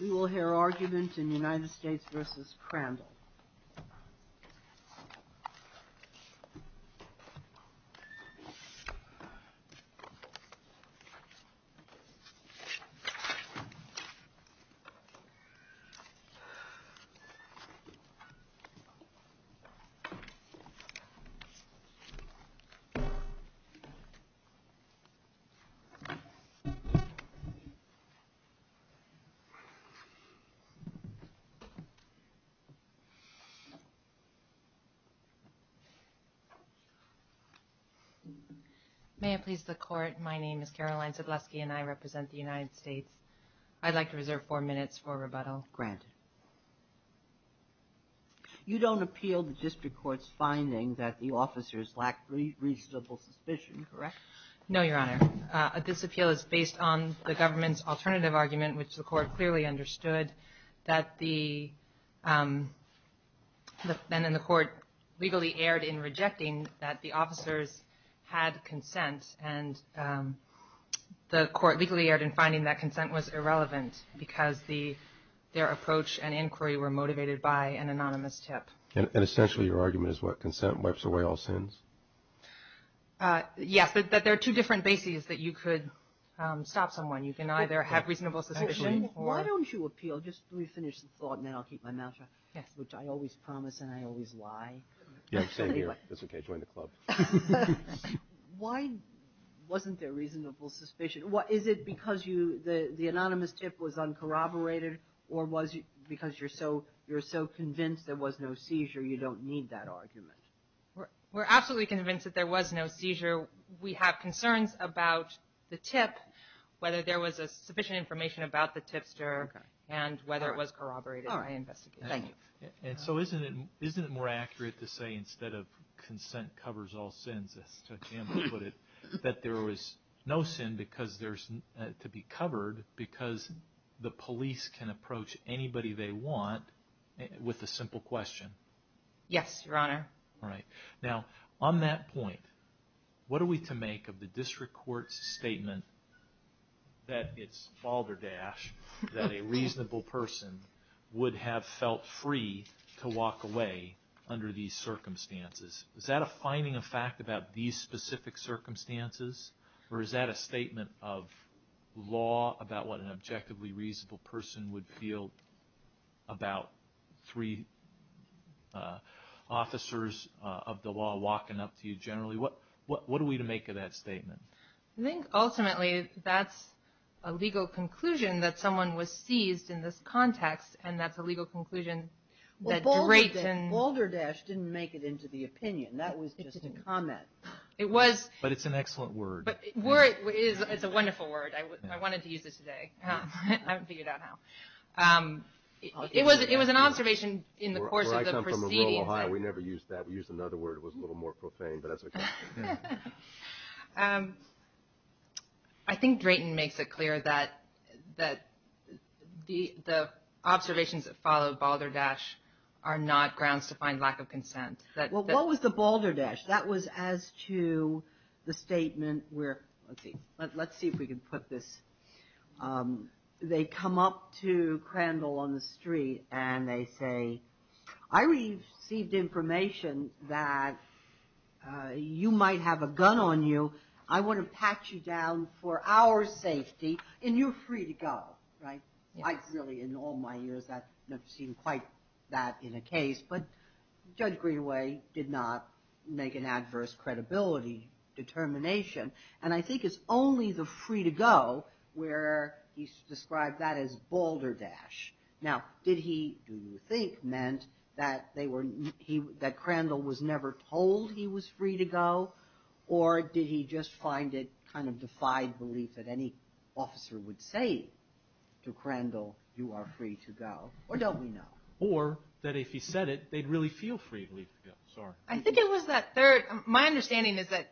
We will hear argument in United States v. Crandell Caroline Zabluski May I please the court? My name is Caroline Zabluski and I represent the United States. I'd like to reserve four minutes for rebuttal. Granted. You don't appeal the district court's finding that the officers lack reasonable suspicion, correct? No, Your Honor. This appeal is based on the government's alternative argument, which the court clearly understood, that the court legally erred in rejecting that the officers had consent, and the court legally erred in finding that consent was irrelevant because their approach and inquiry were motivated by an anonymous tip. And essentially your argument is what? Consent wipes away all sins? Yes, but there are two different bases that you could stop someone. You can either have reasonable suspicion or... Why don't you appeal? Just let me finish the thought and then I'll keep my mouth shut. Yes. Which I always promise and I always lie. Yeah, same here. That's okay. Join the club. Why wasn't there reasonable suspicion? Is it because the anonymous tip was uncorroborated or was it because you're so convinced there was no seizure you don't need that argument? We're absolutely convinced that there was no seizure. We have concerns about the tip, whether there was sufficient information about the tipster, and whether it was corroborated. Oh, I investigate. Thank you. And so isn't it more accurate to say instead of consent covers all sins, as to example put it, that there was no sin to be covered because the police can approach anybody they want with a simple question? Yes, Your Honor. All right. Now, on that point, what are we to make of the district court's statement that it's balderdash that a reasonable person would have felt free to walk away under these circumstances? Is that a finding of fact about these specific circumstances? Or is that a statement of law about what an objectively reasonable person would feel about three officers of the law walking up to you generally? What are we to make of that statement? I think ultimately that's a legal conclusion that someone was seized in this context, and that's a legal conclusion that Drayton- Well, balderdash didn't make it into the opinion. That was just a comment. But it's an excellent word. It's a wonderful word. I wanted to use it today. I haven't figured out how. It was an observation in the course of the proceedings. Well, I come from a rural Ohio. We never used that. We used another word. It was a little more profane, but that's okay. I think Drayton makes it clear that the observations that follow balderdash are not grounds to find lack of consent. Well, what was the balderdash? That was as to the statement where- let's see if we can put this. They come up to Crandall on the street, and they say, I received information that you might have a gun on you. I want to patch you down for our safety, and you're free to go, right? Really, in all my years, I've never seen quite that in a case. But Judge Greenway did not make an adverse credibility determination, and I think it's only the free to go where he's described that as balderdash. Now, did he, do you think, meant that Crandall was never told he was free to go, or did he just find it kind of defied belief that any officer would say to Crandall, you are free to go, or don't we know? Or that if he said it, they'd really feel free to go. Sorry. I think it was that third- my understanding is that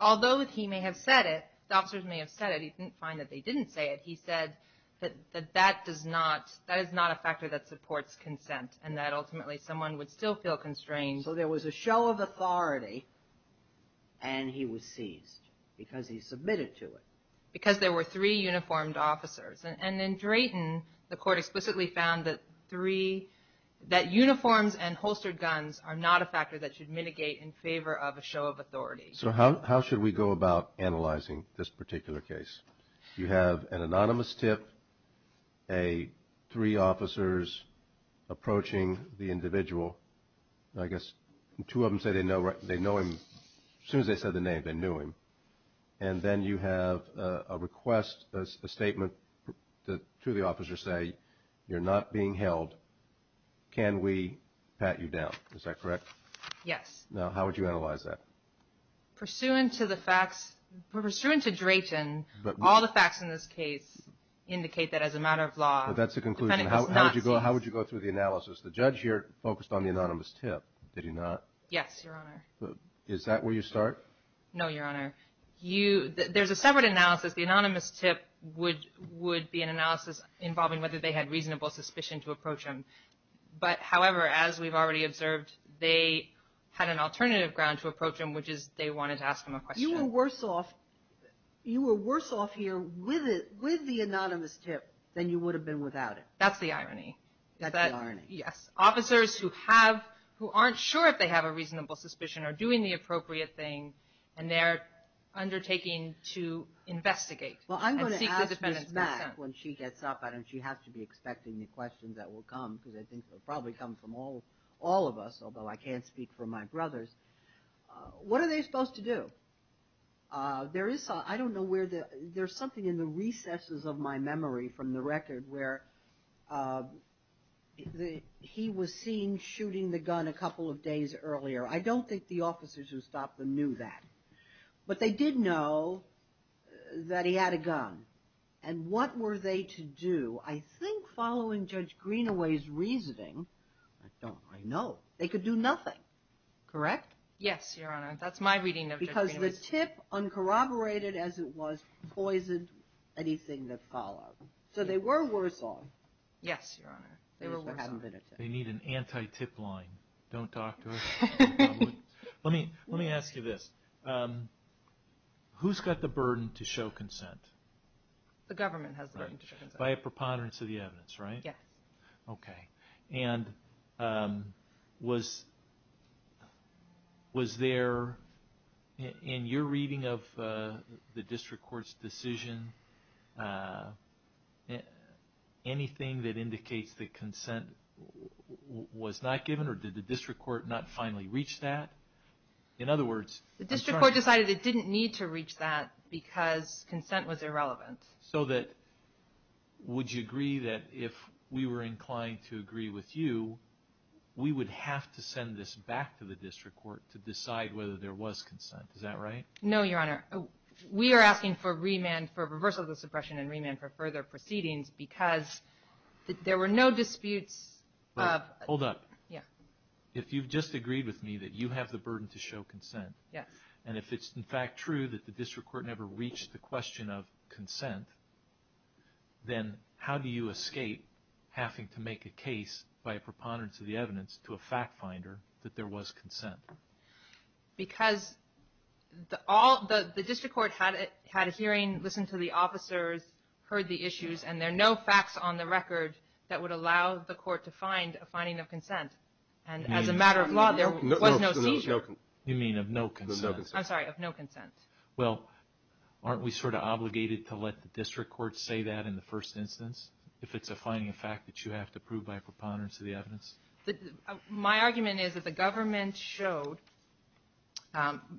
although he may have said it, the officers may have said it, he didn't find that they didn't say it. He said that that does not- that is not a factor that supports consent, and that ultimately someone would still feel constrained. So there was a show of authority, and he was seized, because he submitted to it. Because there were three uniformed officers. And in Drayton, the court explicitly found that three- that uniforms and holstered guns are not a factor that should mitigate in favor of a show of authority. So how should we go about analyzing this particular case? You have an anonymous tip, three officers approaching the individual. I guess two of them say they know him. As soon as they said the name, they knew him. And then you have a request, a statement to the officer saying, you're not being held. Can we pat you down? Is that correct? Yes. Now, how would you analyze that? Pursuant to the facts- pursuant to Drayton, all the facts in this case indicate that as a matter of law- But that's the conclusion. How would you go through the analysis? The judge here focused on the anonymous tip, did he not? Yes, Your Honor. Is that where you start? No, Your Honor. There's a separate analysis. The anonymous tip would be an analysis involving whether they had reasonable suspicion to approach him. But, however, as we've already observed, they had an alternative ground to approach him, which is they wanted to ask him a question. You were worse off- you were worse off here with the anonymous tip than you would have been without it. That's the irony. That's the irony. Yes. Officers who have- who aren't sure if they have a reasonable suspicion are doing the appropriate thing, and they're undertaking to investigate. Well, I'm going to ask Ms. Mack when she gets up. And she has to be expecting the questions that will come, because I think they'll probably come from all of us, although I can't speak for my brothers. What are they supposed to do? There is- I don't know where the- there's something in the recesses of my memory from the record where he was seen shooting the gun a couple of days earlier. I don't think the officers who stopped him knew that. But they did know that he had a gun. And what were they to do? I think following Judge Greenaway's reasoning- I don't- I know. They could do nothing. Correct? Yes, Your Honor. That's my reading of Judge Greenaway's- Because the tip, uncorroborated as it was, poisoned anything that followed. So they were worse off. Yes, Your Honor. They were worse off. They need an anti-tip line. Don't talk to us. Let me ask you this. Who's got the burden to show consent? The government has the burden to show consent. By a preponderance of the evidence, right? Yes. Okay. And was there, in your reading of the district court's decision, anything that indicates that consent was not given? Or did the district court not finally reach that? In other words- The district court decided it didn't need to reach that because consent was irrelevant. So would you agree that if we were inclined to agree with you, we would have to send this back to the district court to decide whether there was consent? Is that right? No, Your Honor. We are asking for reversal of the suppression and remand for further proceedings because there were no disputes of- Hold up. Yes. If you've just agreed with me that you have the burden to show consent, and if it's in fact true that the district court never reached the question of consent, then how do you escape having to make a case by a preponderance of the evidence to a fact finder that there was consent? Because the district court had a hearing, listened to the officers, heard the issues, and there are no facts on the record that would allow the court to find a finding of consent. And as a matter of law, there was no seizure. You mean of no consent. I'm sorry, of no consent. Well, aren't we sort of obligated to let the district court say that in the first instance if it's a finding of fact that you have to prove by a preponderance of the evidence? My argument is that the government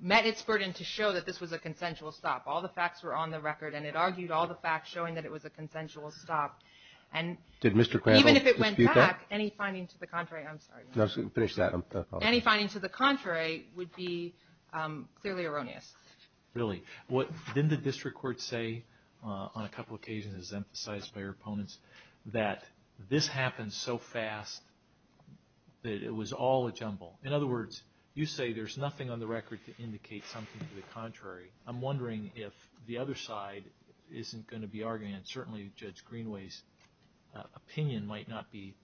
met its burden to show that this was a consensual stop. All the facts were on the record, and it argued all the facts showing that it was a consensual stop. Did Mr. Crandall dispute that? Even if it went back, any finding to the contrary- I'm sorry. Finish that. Any finding to the contrary would be clearly erroneous. Really? Didn't the district court say on a couple of occasions, as emphasized by your opponents, that this happened so fast that it was all a jumble? In other words, you say there's nothing on the record to indicate something to the contrary. I'm wondering if the other side isn't going to be arguing, and certainly Judge Greenway's opinion might not be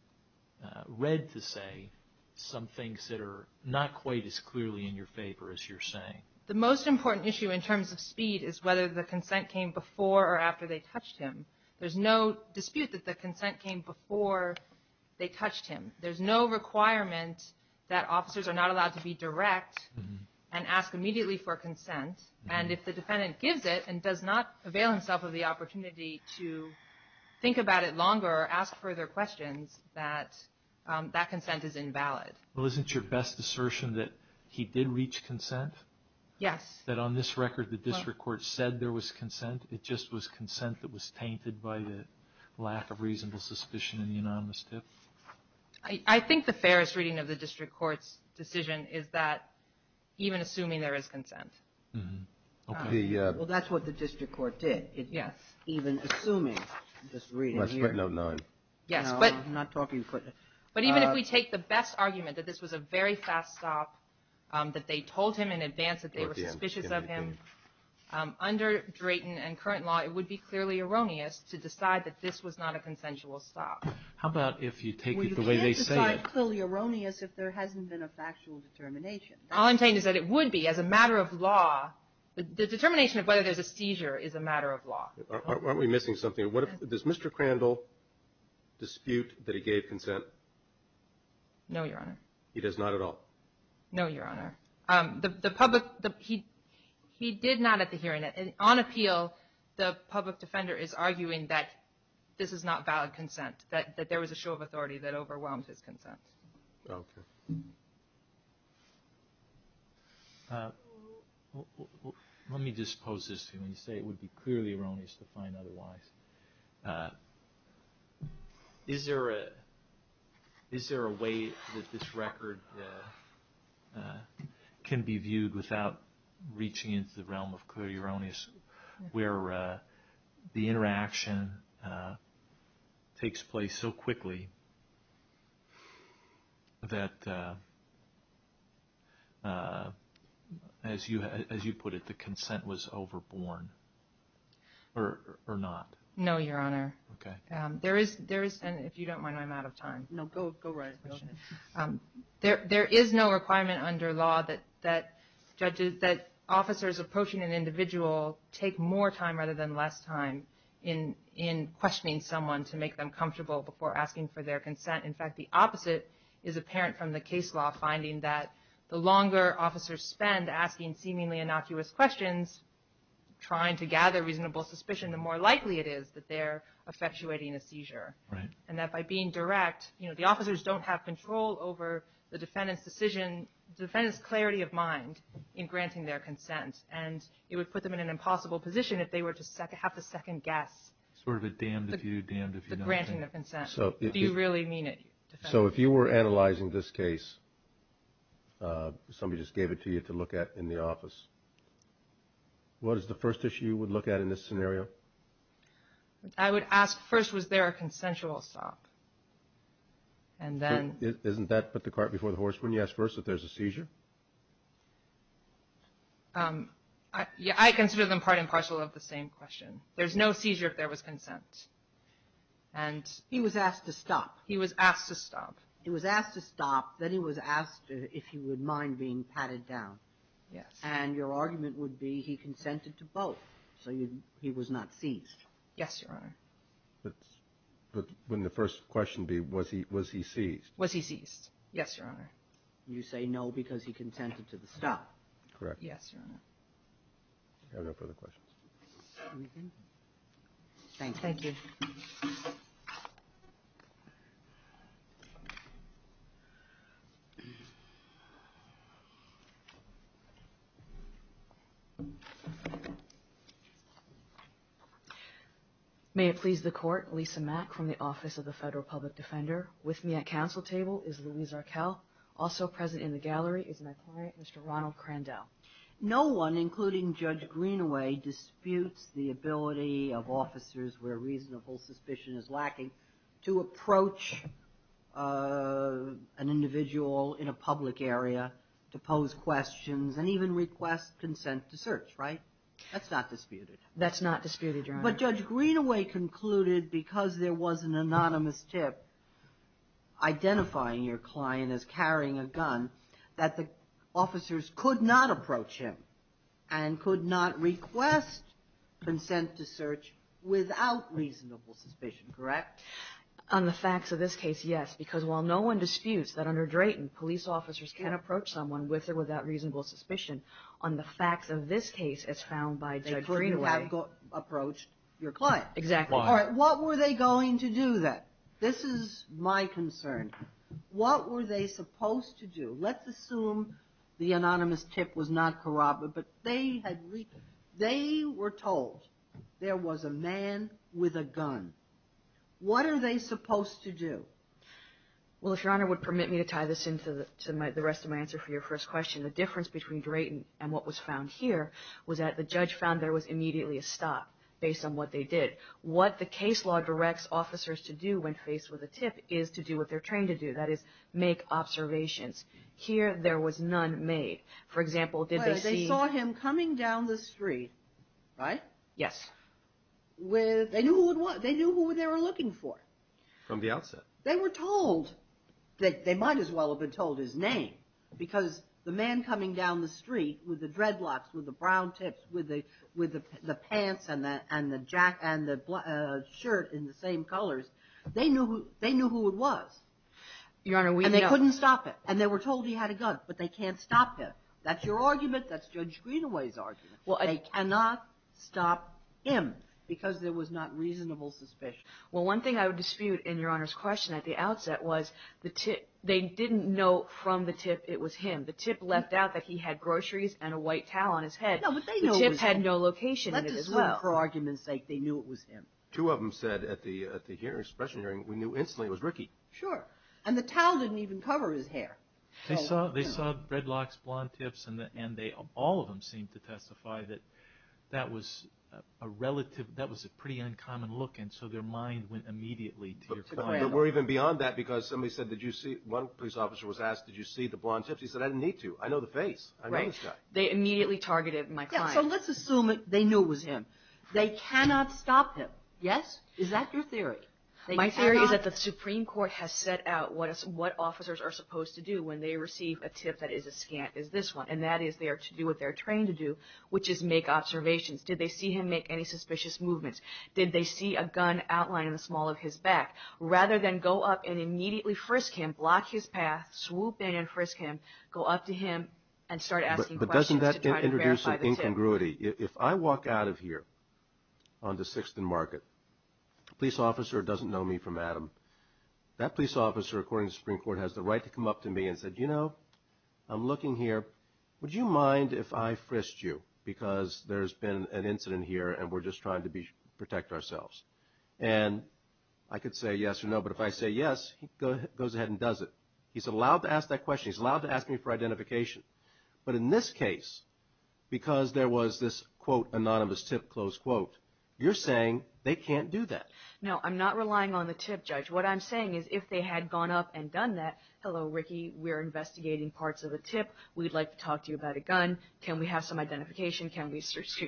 read to say, some things that are not quite as clearly in your favor as you're saying. The most important issue in terms of speed is whether the consent came before or after they touched him. There's no dispute that the consent came before they touched him. There's no requirement that officers are not allowed to be direct and ask immediately for consent, and if the defendant gives it and does not avail himself of the opportunity to think about it longer or ask further questions, that that consent is invalid. Well, isn't your best assertion that he did reach consent? Yes. That on this record the district court said there was consent, it just was consent that was tainted by the lack of reasonable suspicion in the anonymous tip? I think the fairest reading of the district court's decision is that even assuming there is consent. Okay. Well, that's what the district court did. Yes. Even assuming, just reading here. I'm not talking footnotes. But even if we take the best argument, that this was a very fast stop, that they told him in advance that they were suspicious of him, under Drayton and current law it would be clearly erroneous to decide that this was not a consensual stop. How about if you take it the way they say it? Well, you can't decide clearly erroneous if there hasn't been a factual determination. All I'm saying is that it would be as a matter of law. The determination of whether there's a seizure is a matter of law. Aren't we missing something? Does Mr. Crandall dispute that he gave consent? No, Your Honor. He does not at all? No, Your Honor. He did not at the hearing. On appeal, the public defender is arguing that this is not valid consent, that there was a show of authority that overwhelmed his consent. Okay. Let me just pose this to you. When you say it would be clearly erroneous to find otherwise, is there a way that this record can be viewed without reaching into the realm of clearly erroneous, where the interaction takes place so quickly that, as you put it, the consent was overborne or not? No, Your Honor. Okay. There is, and if you don't mind, I'm out of time. No, go right ahead. There is no requirement under law that judges, that officers approaching an individual take more time rather than less time in questioning someone to make them comfortable before asking for their consent. In fact, the opposite is apparent from the case law, finding that the longer officers spend asking seemingly innocuous questions, trying to gather reasonable suspicion, the more likely it is that they're effectuating a seizure. Right. And that by being direct, you know, the officers don't have control over the defendant's decision, the defendant's clarity of mind in granting their consent. And it would put them in an impossible position if they were to have to second guess. Sort of a damned if you, damned if you nothing. The granting of consent. Do you really mean it? So if you were analyzing this case, somebody just gave it to you to look at in the office, what is the first issue you would look at in this scenario? I would ask first, was there a consensual stop? And then. Isn't that put the cart before the horse? Wouldn't you ask first if there's a seizure? Yeah, I consider them part and parcel of the same question. There's no seizure if there was consent. And. He was asked to stop. He was asked to stop. He was asked to stop. Then he was asked if he would mind being patted down. Yes. And your argument would be he consented to both. So he was not seized. Yes, Your Honor. But wouldn't the first question be, was he seized? Was he seized? Yes, Your Honor. You say no because he consented to the stop. Correct. Yes, Your Honor. No further questions. Anything? Thank you. Thank you. Thank you. May it please the court. Lisa Mack from the Office of the Federal Public Defender with me at Council table is Louise Arkell. Also present in the gallery is my client, Mr. Ronald Crandell. No one, including Judge Greenaway, disputes the ability of officers where reasonable suspicion is lacking to approach an individual in a public area to pose questions and even request consent to search, right? That's not disputed. That's not disputed, Your Honor. But Judge Greenaway concluded, because there was an anonymous tip identifying your client as carrying a gun, that the officers could not approach him and could not request consent to search without reasonable suspicion, correct? On the facts of this case, yes. Because while no one disputes that under Drayton, police officers can approach someone with or without reasonable suspicion, on the facts of this case, as found by Judge Greenaway. They could have approached your client. Exactly. All right. What were they going to do then? This is my concern. What were they supposed to do? Let's assume the anonymous tip was not corroborated. They were told there was a man with a gun. What are they supposed to do? Well, if Your Honor would permit me to tie this into the rest of my answer for your first question, the difference between Drayton and what was found here was that the judge found there was immediately a stop based on what they did. What the case law directs officers to do when faced with a tip is to do what they're trained to do. That is, make observations. Here there was none made. For example, did they see? They saw him coming down the street, right? Yes. They knew who they were looking for. From the outset. They were told that they might as well have been told his name because the man coming down the street with the dreadlocks, with the brown tips, with the pants and the shirt in the same colors, they knew who it was. Your Honor, we know. And they couldn't stop him. And they were told he had a gun, but they can't stop him. That's your argument. That's Judge Greenaway's argument. They cannot stop him because there was not reasonable suspicion. Well, one thing I would dispute in Your Honor's question at the outset was they didn't know from the tip it was him. The tip left out that he had groceries and a white towel on his head. No, but they knew it was him. The tip had no location in it as well. Let's assume for argument's sake they knew it was him. Two of them said at the hearing, expression hearing, we knew instantly it was Ricky. Sure. And the towel didn't even cover his hair. They saw dreadlocks, blonde tips, and all of them seemed to testify that that was a relative, that was a pretty uncommon look, and so their mind went immediately to your client. But we're even beyond that because somebody said, one police officer was asked, did you see the blonde tips? He said, I didn't need to. I know the face. I know this guy. They immediately targeted my client. So let's assume they knew it was him. They cannot stop him. Yes? Is that your theory? My theory is that the Supreme Court has set out what officers are supposed to do when they receive a tip that is as scant as this one, and that is they are to do what they're trained to do, which is make observations. Did they see him make any suspicious movements? Did they see a gun outlined in the small of his back? Rather than go up and immediately frisk him, block his path, swoop in and frisk him, go up to him and start asking questions to try to verify the tip. But doesn't that introduce an incongruity? If I walk out of here on the 6th and Market, a police officer doesn't know me from Adam. That police officer, according to the Supreme Court, has the right to come up to me and say, you know, I'm looking here. Would you mind if I frisked you because there's been an incident here and we're just trying to protect ourselves? And I could say yes or no, but if I say yes, he goes ahead and does it. He's allowed to ask that question. He's allowed to ask me for identification. But in this case, because there was this, quote, anonymous tip, close quote, you're saying they can't do that. No, I'm not relying on the tip, Judge. What I'm saying is if they had gone up and done that, hello, Ricky, we're investigating parts of the tip. We'd like to talk to you about a gun. Can we have some identification? Can we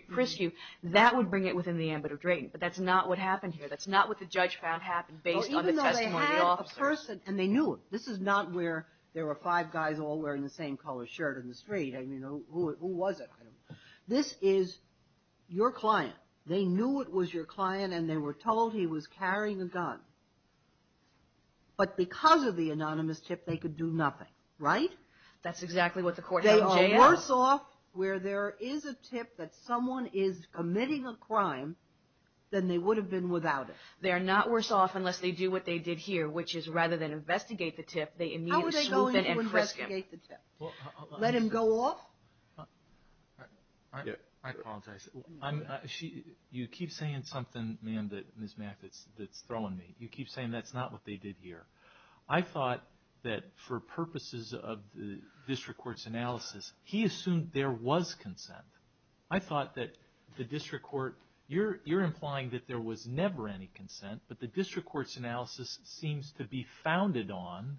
frisk you? That would bring it within the ambit of drain. But that's not what happened here. That's not what the judge found happened based on the testimony of the officer. Even though they had a person and they knew him. This is not where there were five guys all wearing the same color shirt in the street. I mean, who was it? This is your client. They knew it was your client and they were told he was carrying a gun. But because of the anonymous tip, they could do nothing, right? That's exactly what the court said. They are worse off where there is a tip that someone is committing a crime than they would have been without it. They are not worse off unless they do what they did here, which is rather than investigate the tip, they immediately swoop in and frisk him. How are they going to investigate the tip? Let him go off? I apologize. You keep saying something, ma'am, that Ms. Mathis, that's throwing me. You keep saying that's not what they did here. I thought that for purposes of the district court's analysis, he assumed there was consent. I thought that the district court, you're implying that there was never any consent, but the district court's analysis seems to be founded on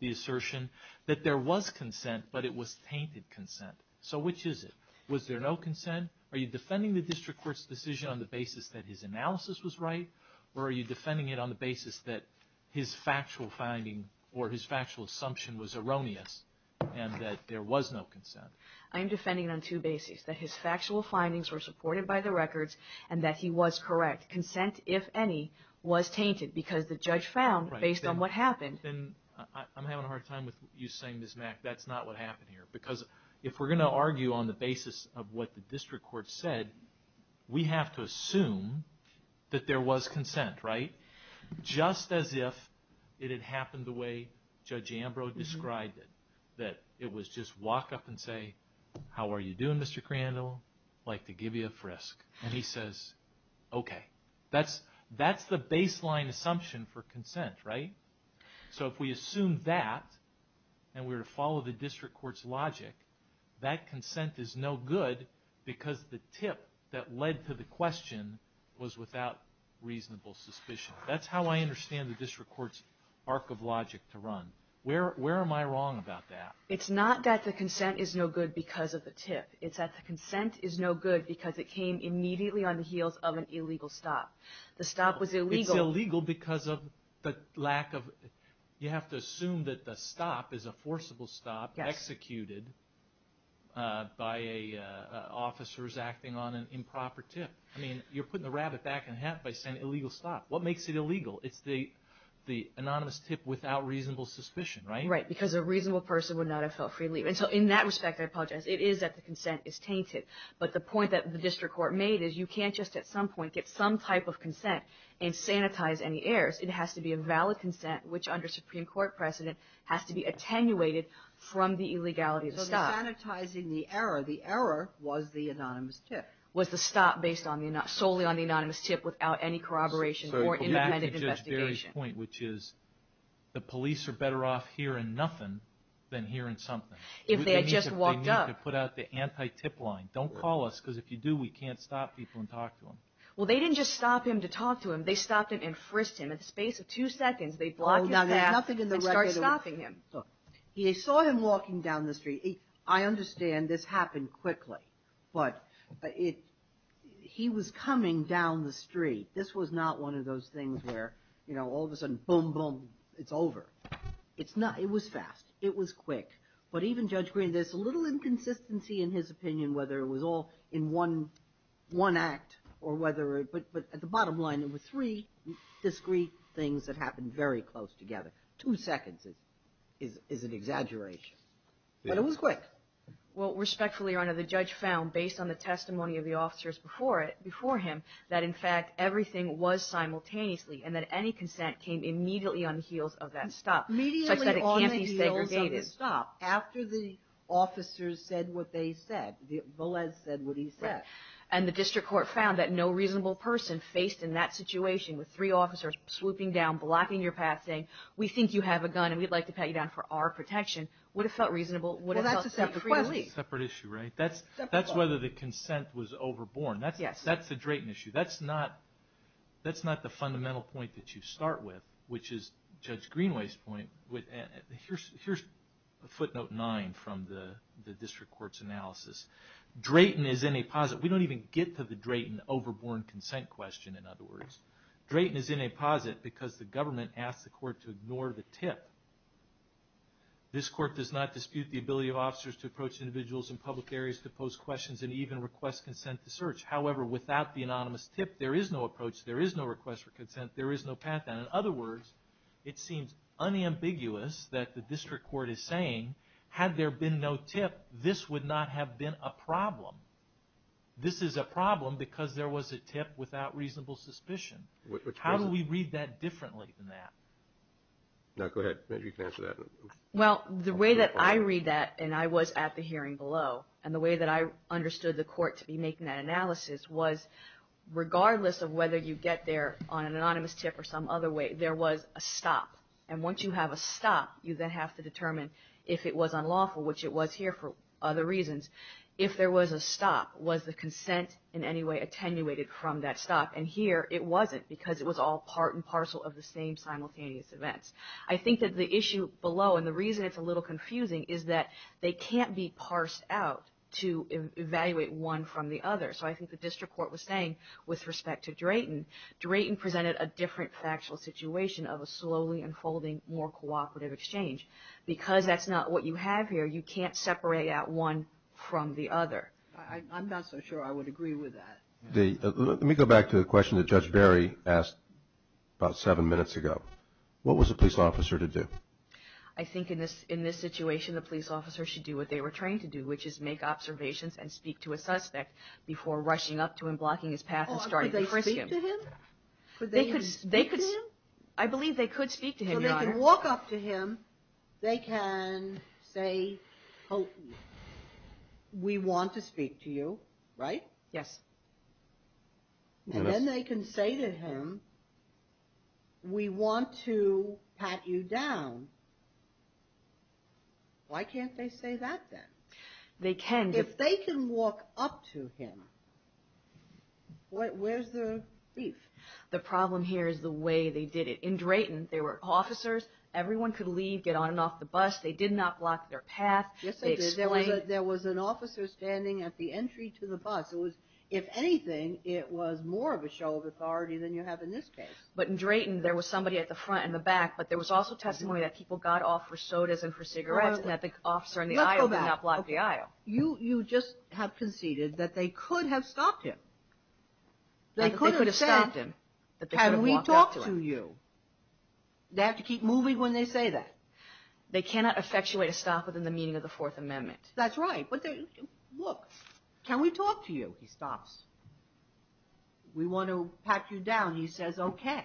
the assertion that there was consent, but it was tainted consent. So which is it? Was there no consent? Are you defending the district court's decision on the basis that his analysis was right, or are you defending it on the basis that his factual finding or his factual assumption was erroneous and that there was no consent? I am defending it on two bases, that his factual findings were supported by the records and that he was correct. Consent, if any, was tainted because the judge found, based on what happened. I'm having a hard time with you saying, Ms. Mack, that's not what happened here, because if we're going to argue on the basis of what the district court said, we have to assume that there was consent, right? Just as if it had happened the way Judge Ambrose described it, that it was just walk up and say, how are you doing, Mr. Crandall? I'd like to give you a frisk. And he says, okay. That's the baseline assumption for consent, right? So if we assume that and we were to follow the district court's logic, that consent is no good because the tip that led to the question was without reasonable suspicion. That's how I understand the district court's arc of logic to run. Where am I wrong about that? It's not that the consent is no good because of the tip. It's that the consent is no good because it came immediately on the heels of an illegal stop. The stop was illegal. It's illegal because of the lack of, you have to assume that the stop is a forcible stop, executed by officers acting on an improper tip. I mean, you're putting the rabbit back in the hat by saying illegal stop. What makes it illegal? It's the anonymous tip without reasonable suspicion, right? Right, because a reasonable person would not have felt free to leave. And so in that respect, I apologize, it is that the consent is tainted. But the point that the district court made is you can't just at some point get some type of consent and sanitize any errors. It has to be a valid consent, which under Supreme Court precedent, has to be attenuated from the illegality of the stop. So sanitizing the error, the error was the anonymous tip. Was the stop based solely on the anonymous tip without any corroboration or independent investigation. The police are better off hearing nothing than hearing something. If they had just walked up. They need to put out the anti-tip line. Don't call us because if you do, we can't stop people and talk to them. Well, they didn't just stop him to talk to him. They stopped him and frisked him. In the space of two seconds, they blocked his path and started stopping him. They saw him walking down the street. I understand this happened quickly, but he was coming down the street. This was not one of those things where, you know, all of a sudden, boom, boom, it's over. It's not. It was fast. It was quick. But even Judge Green, there's a little inconsistency in his opinion whether it was all in one act or whether it. But at the bottom line, there were three discreet things that happened very close together. Two seconds is an exaggeration. But it was quick. Well, respectfully, Your Honor, the judge found, based on the testimony of the officers before him, that, in fact, everything was simultaneously and that any consent came immediately on the heels of that stop. Immediately on the heels of the stop. Such that it can't be segregated. After the officers said what they said, Velez said what he said. Right. And the district court found that no reasonable person faced in that situation with three officers swooping down, blocking your path, saying, we think you have a gun and we'd like to pat you down for our protection, would have felt reasonable, would have felt free. Well, that's a separate case. Separate issue, right? That's whether the consent was overborne. Yes. That's the Drayton issue. That's not the fundamental point that you start with, which is Judge Greenway's point. Here's footnote nine from the district court's analysis. Drayton is in a positive. We don't even get to the Drayton overborne consent question, in other words. Drayton is in a posit because the government asked the court to ignore the tip. This court does not dispute the ability of officers to approach individuals in public areas to pose questions and even request consent to search. However, without the anonymous tip, there is no approach, there is no request for consent, there is no pat down. In other words, it seems unambiguous that the district court is saying, had there been no tip, this would not have been a problem. This is a problem because there was a tip without reasonable suspicion. How do we read that differently than that? Go ahead. You can answer that. Well, the way that I read that, and I was at the hearing below, and the way that I understood the court to be making that analysis was, regardless of whether you get there on an anonymous tip or some other way, there was a stop. And once you have a stop, you then have to determine if it was unlawful, which it was here for other reasons. If there was a stop, was the consent in any way attenuated from that stop? And here it wasn't because it was all part and parcel of the same simultaneous events. I think that the issue below, and the reason it's a little confusing, is that they can't be parsed out to evaluate one from the other. So I think the district court was saying, with respect to Drayton, Drayton presented a different factual situation of a slowly unfolding, more cooperative exchange. Because that's not what you have here, you can't separate out one from the other. I'm not so sure I would agree with that. Let me go back to the question that Judge Berry asked about seven minutes ago. What was a police officer to do? I think in this situation, the police officer should do what they were trained to do, which is make observations and speak to a suspect before rushing up to him, blocking his path, and starting to frisk him. Could they speak to him? I believe they could speak to him, Your Honor. So they can walk up to him, they can say, we want to speak to you, right? Yes. And then they can say to him, we want to pat you down. Why can't they say that then? They can. If they can walk up to him, where's the beef? The problem here is the way they did it. In Drayton, there were officers, everyone could leave, get on and off the bus, they did not block their path. Yes, they did. There was an officer standing at the entry to the bus. If anything, it was more of a show of authority than you have in this case. But in Drayton, there was somebody at the front and the back, but there was also testimony that people got off for sodas and for cigarettes and that the officer in the aisle did not block the aisle. You just have conceded that they could have stopped him. They could have said, can we talk to you? They have to keep moving when they say that. They cannot effectuate a stop within the meaning of the Fourth Amendment. That's right. Look, can we talk to you? He stops. We want to pat you down. He says, okay.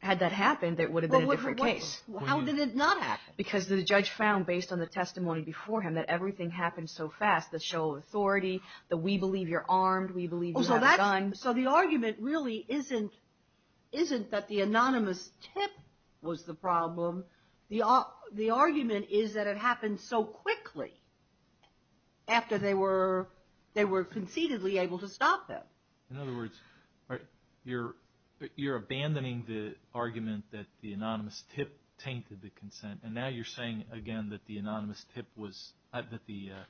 Had that happened, it would have been a different case. How did it not happen? Because the judge found, based on the testimony before him, that everything happened so fast, the show of authority, the we believe you're armed, we believe you have a gun. So the argument really isn't that the anonymous tip was the problem. The argument is that it happened so quickly after they were conceitedly able to stop him. In other words, you're abandoning the argument that the anonymous tip tainted the consent, and now you're saying, again, that the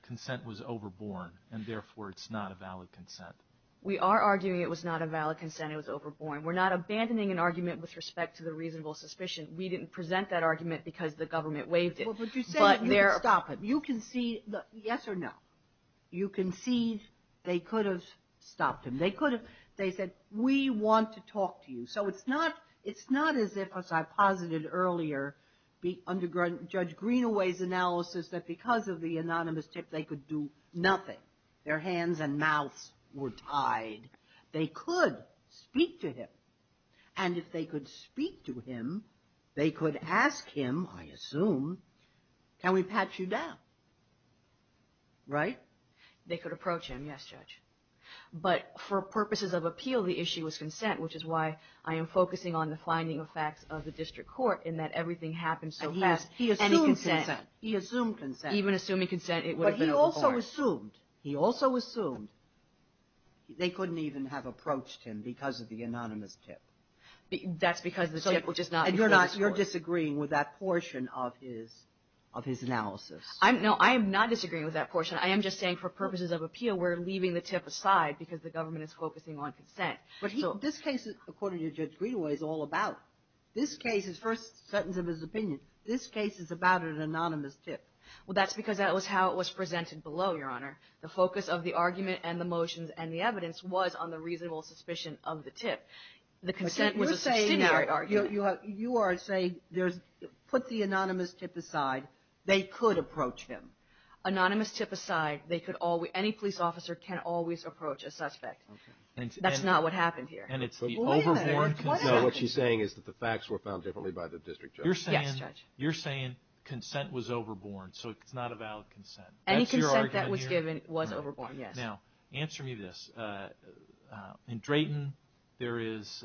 consent was overborne, and therefore it's not a valid consent. We are arguing it was not a valid consent. It was overborne. We're not abandoning an argument with respect to the reasonable suspicion. We didn't present that argument because the government waived it. Well, but you say that you could stop him. You concede, yes or no? You concede they could have stopped him. They could have. They said, we want to talk to you. So it's not as if, as I posited earlier, under Judge Greenaway's analysis that because of the anonymous tip, they could do nothing. Their hands and mouths were tied. They could speak to him, and if they could speak to him, they could ask him, I assume, can we patch you down, right? They could approach him, yes, Judge. But for purposes of appeal, the issue was consent, which is why I am focusing on the finding of facts of the district court in that everything happened so fast. And he assumed consent. He assumed consent. Even assuming consent, it would have been overborne. But he also assumed, he also assumed they couldn't even have approached him because of the anonymous tip. That's because the tip was just not before the court. And you're not, you're disagreeing with that portion of his, of his analysis. No, I am not disagreeing with that portion. I am just saying for purposes of appeal, we're leaving the tip aside because the government is focusing on consent. But he, this case, according to Judge Greenaway, is all about, this case, his first sentence of his opinion, this case is about an anonymous tip. Well, that's because that was how it was presented below, Your Honor. The focus of the argument and the motions and the evidence was on the reasonable suspicion of the tip. The consent was a subsidiary argument. You are saying there's, put the anonymous tip aside. They could approach him. Anonymous tip aside, they could always, any police officer can always approach a suspect. That's not what happened here. And it's the overborne consent. What she's saying is that the facts were found differently by the district judge. Yes, Judge. You're saying consent was overborne, so it's not a valid consent. Any consent that was given was overborne, yes. Now, answer me this. In Drayton, there is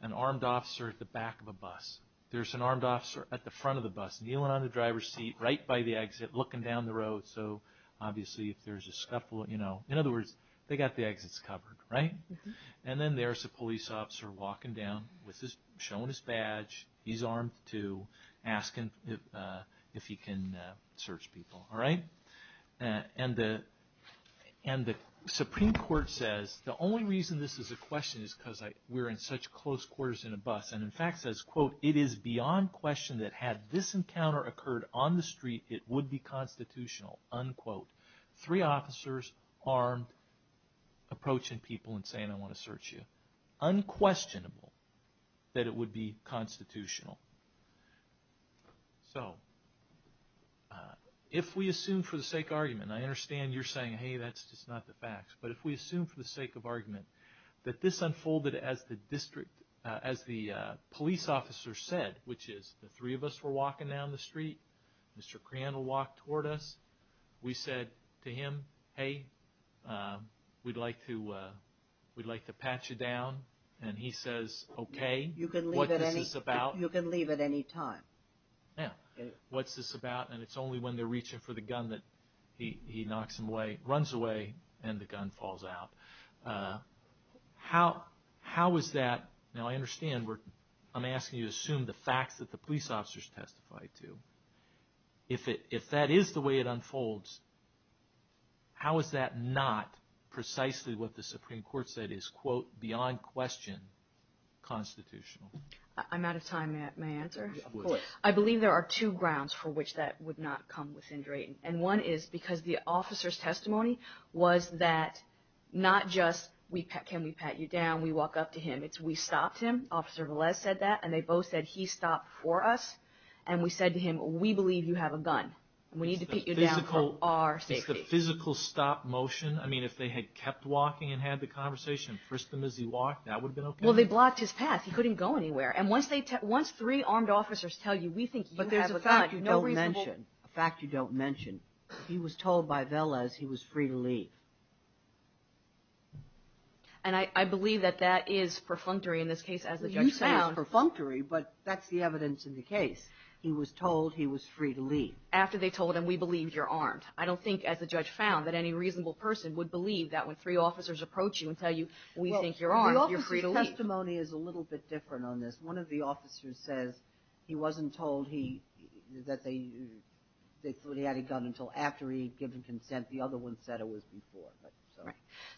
an armed officer at the back of a bus. There's an armed officer at the front of the bus, kneeling on the driver's seat, right by the exit, looking down the road. So, obviously, if there's a scuffle, you know, in other words, they got the exits covered, right? And then there's the police officer walking down, showing his badge. He's armed, too, asking if he can search people, all right? And the Supreme Court says, the only reason this is a question is because we're in such close quarters in a bus. And, in fact, says, quote, it is beyond question that had this encounter occurred on the street, it would be constitutional, unquote. Three officers, armed, approaching people and saying, I want to search you. Unquestionable that it would be constitutional. So, if we assume for the sake of argument, and I understand you're saying, hey, that's just not the facts, but if we assume for the sake of argument that this unfolded as the police officer said, which is the three of us were walking down the street, Mr. Crayon will walk toward us. We said to him, hey, we'd like to pat you down. And he says, okay, what is this about? You can leave at any time. Yeah, what's this about? And it's only when they're reaching for the gun that he knocks him away, runs away, and the gun falls out. How is that? Now, I understand I'm asking you to assume the facts that the police officers testified to. If that is the way it unfolds, how is that not precisely what the Supreme Court said is, quote, beyond question constitutional? I'm out of time. May I answer? Of course. I believe there are two grounds for which that would not come within Drayton. And one is because the officer's testimony was that not just can we pat you down, we walk up to him. It's we stopped him. Officer Velez said that. And they both said he stopped for us. And we said to him, we believe you have a gun. We need to pat you down for our safety. Is the physical stop motion, I mean, if they had kept walking and had the conversation and frisked him as he walked, that would have been okay? Well, they blocked his path. He couldn't go anywhere. And once three armed officers tell you, we think you have a gun, no reason to walk. And a fact you don't mention, he was told by Velez he was free to leave. And I believe that that is perfunctory in this case, as the judge found. You say it's perfunctory, but that's the evidence in the case. He was told he was free to leave. After they told him, we believe you're armed. I don't think, as the judge found, that any reasonable person would believe that when three officers approach you and tell you, we think you're armed, you're free to leave. Well, the officer's testimony is a little bit different on this. One of the officers says he wasn't told that he had a gun until after he had given consent. The other one said it was before.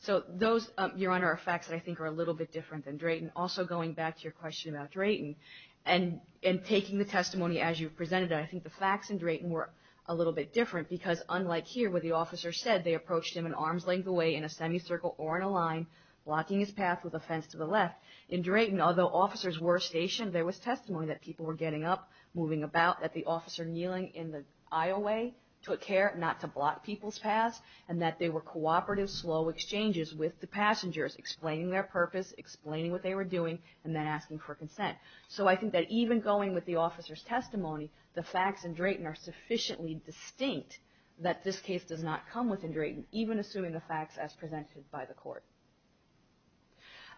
So those, Your Honor, are facts that I think are a little bit different than Drayton. Also, going back to your question about Drayton and taking the testimony as you presented it, I think the facts in Drayton were a little bit different, because unlike here where the officer said they approached him an arm's length away in a semicircle or in a line, blocking his path with a fence to the left, in Drayton, although officers were stationed, there was testimony that people were getting up, moving about, that the officer kneeling in the aisle way took care not to block people's paths, and that they were cooperative, slow exchanges with the passengers, explaining their purpose, explaining what they were doing, and then asking for consent. So I think that even going with the officer's testimony, the facts in Drayton are sufficiently distinct that this case does not come within Drayton, even assuming the facts as presented by the court.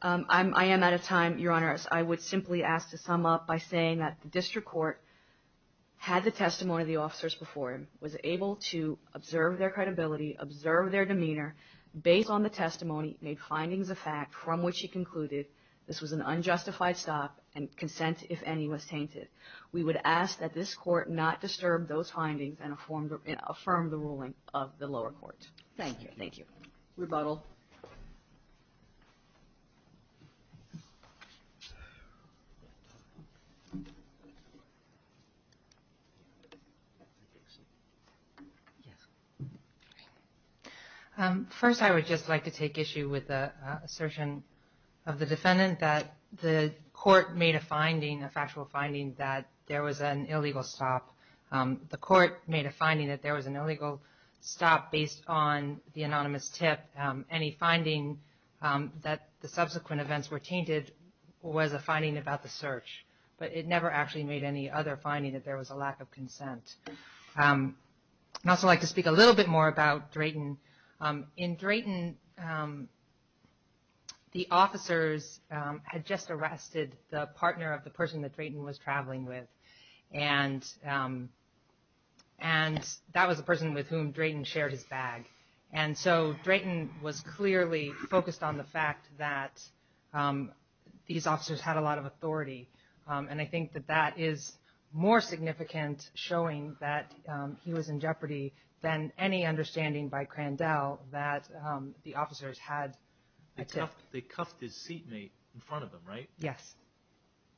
I am out of time, Your Honor. I would simply ask to sum up by saying that the district court had the testimony of the officers before him, was able to observe their credibility, observe their demeanor, based on the testimony, made findings of fact from which he concluded this was an unjustified stop, and consent, if any, was tainted. We would ask that this court not disturb those findings and affirm the ruling of the lower court. Thank you. Thank you. Rebuttal. First, I would just like to take issue with the assertion of the defendant that the court made a finding, a factual finding that there was an illegal stop. The court made a finding that there was an illegal stop based on the anonymous tip. Any finding that the subsequent events were tainted was a finding about the search, but it never actually made any other finding that there was a lack of consent. I would also like to speak a little bit more about Drayton. In Drayton, the officers had just arrested the partner of the person that Drayton was traveling with, and that was the person with whom Drayton shared his bag. And so Drayton was clearly focused on the fact that these officers had a lot of authority, and I think that that is more significant showing that he was in jeopardy than any understanding by Crandell that the officers had a tip. They cuffed his seatmate in front of him, right? Yes.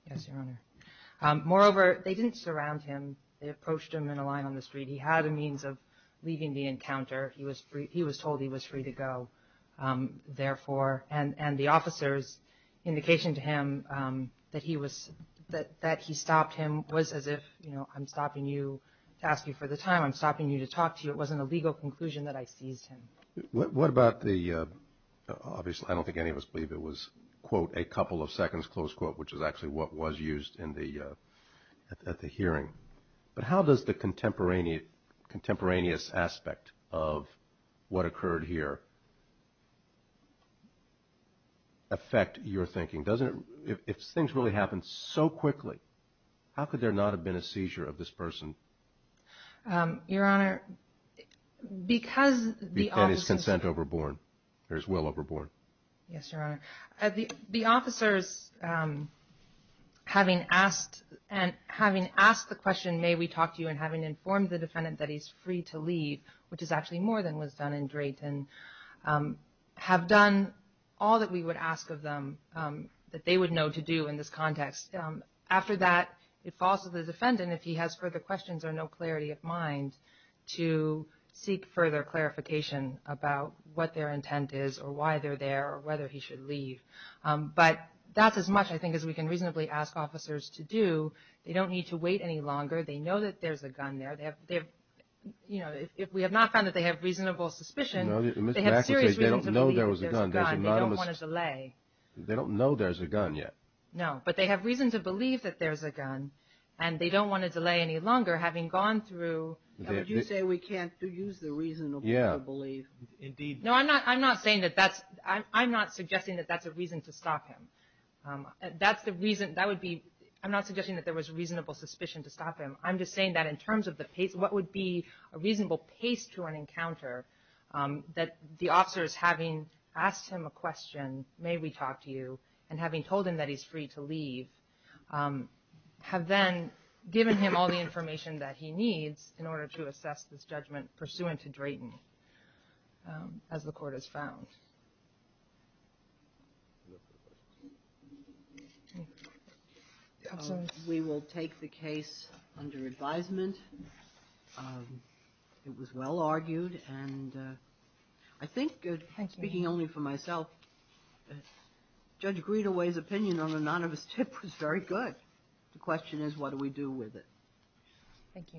Yes, Your Honor. Moreover, they didn't surround him. They approached him in a line on the street. He had a means of leaving the encounter. He was told he was free to go, therefore. And the officer's indication to him that he stopped him was as if, you know, I'm stopping you to ask you for the time. I'm stopping you to talk to you. It wasn't a legal conclusion that I seized him. What about the, obviously I don't think any of us believe it was, quote, a couple of seconds, close quote, which is actually what was used at the hearing. But how does the contemporaneous aspect of what occurred here affect your thinking? If things really happened so quickly, how could there not have been a seizure of this person? Your Honor, because the officers – And his consent overboard, or his will overboard. Yes, Your Honor. The officers, having asked the question, may we talk to you, and having informed the defendant that he's free to leave, which is actually more than was done in Drayton, have done all that we would ask of them that they would know to do in this context. After that, it falls to the defendant, if he has further questions or no clarity of mind, to seek further clarification about what their intent is or why they're there or whether he should leave. But that's as much, I think, as we can reasonably ask officers to do. They don't need to wait any longer. They know that there's a gun there. You know, if we have not found that they have reasonable suspicion, they have serious reasons to believe there's a gun. They don't want to delay. They don't know there's a gun yet. No, but they have reason to believe that there's a gun, and they don't want to delay any longer, having gone through. Would you say we can't use the reason to believe? Yeah, indeed. No, I'm not saying that that's – I'm not suggesting that that's a reason to stop him. That's the reason – that would be – I'm not suggesting that there was reasonable suspicion to stop him. I'm just saying that in terms of the – what would be a reasonable pace to an encounter, that the officers, having asked him a question, may we talk to you, and having told him that he's free to leave, have then given him all the information that he needs in order to assess this judgment pursuant to Drayton, as the court has found. We will take the case under advisement. It was well argued, and I think, speaking only for myself, Judge Greenaway's opinion on the none of us tip was very good. The question is, what do we do with it? Thank you.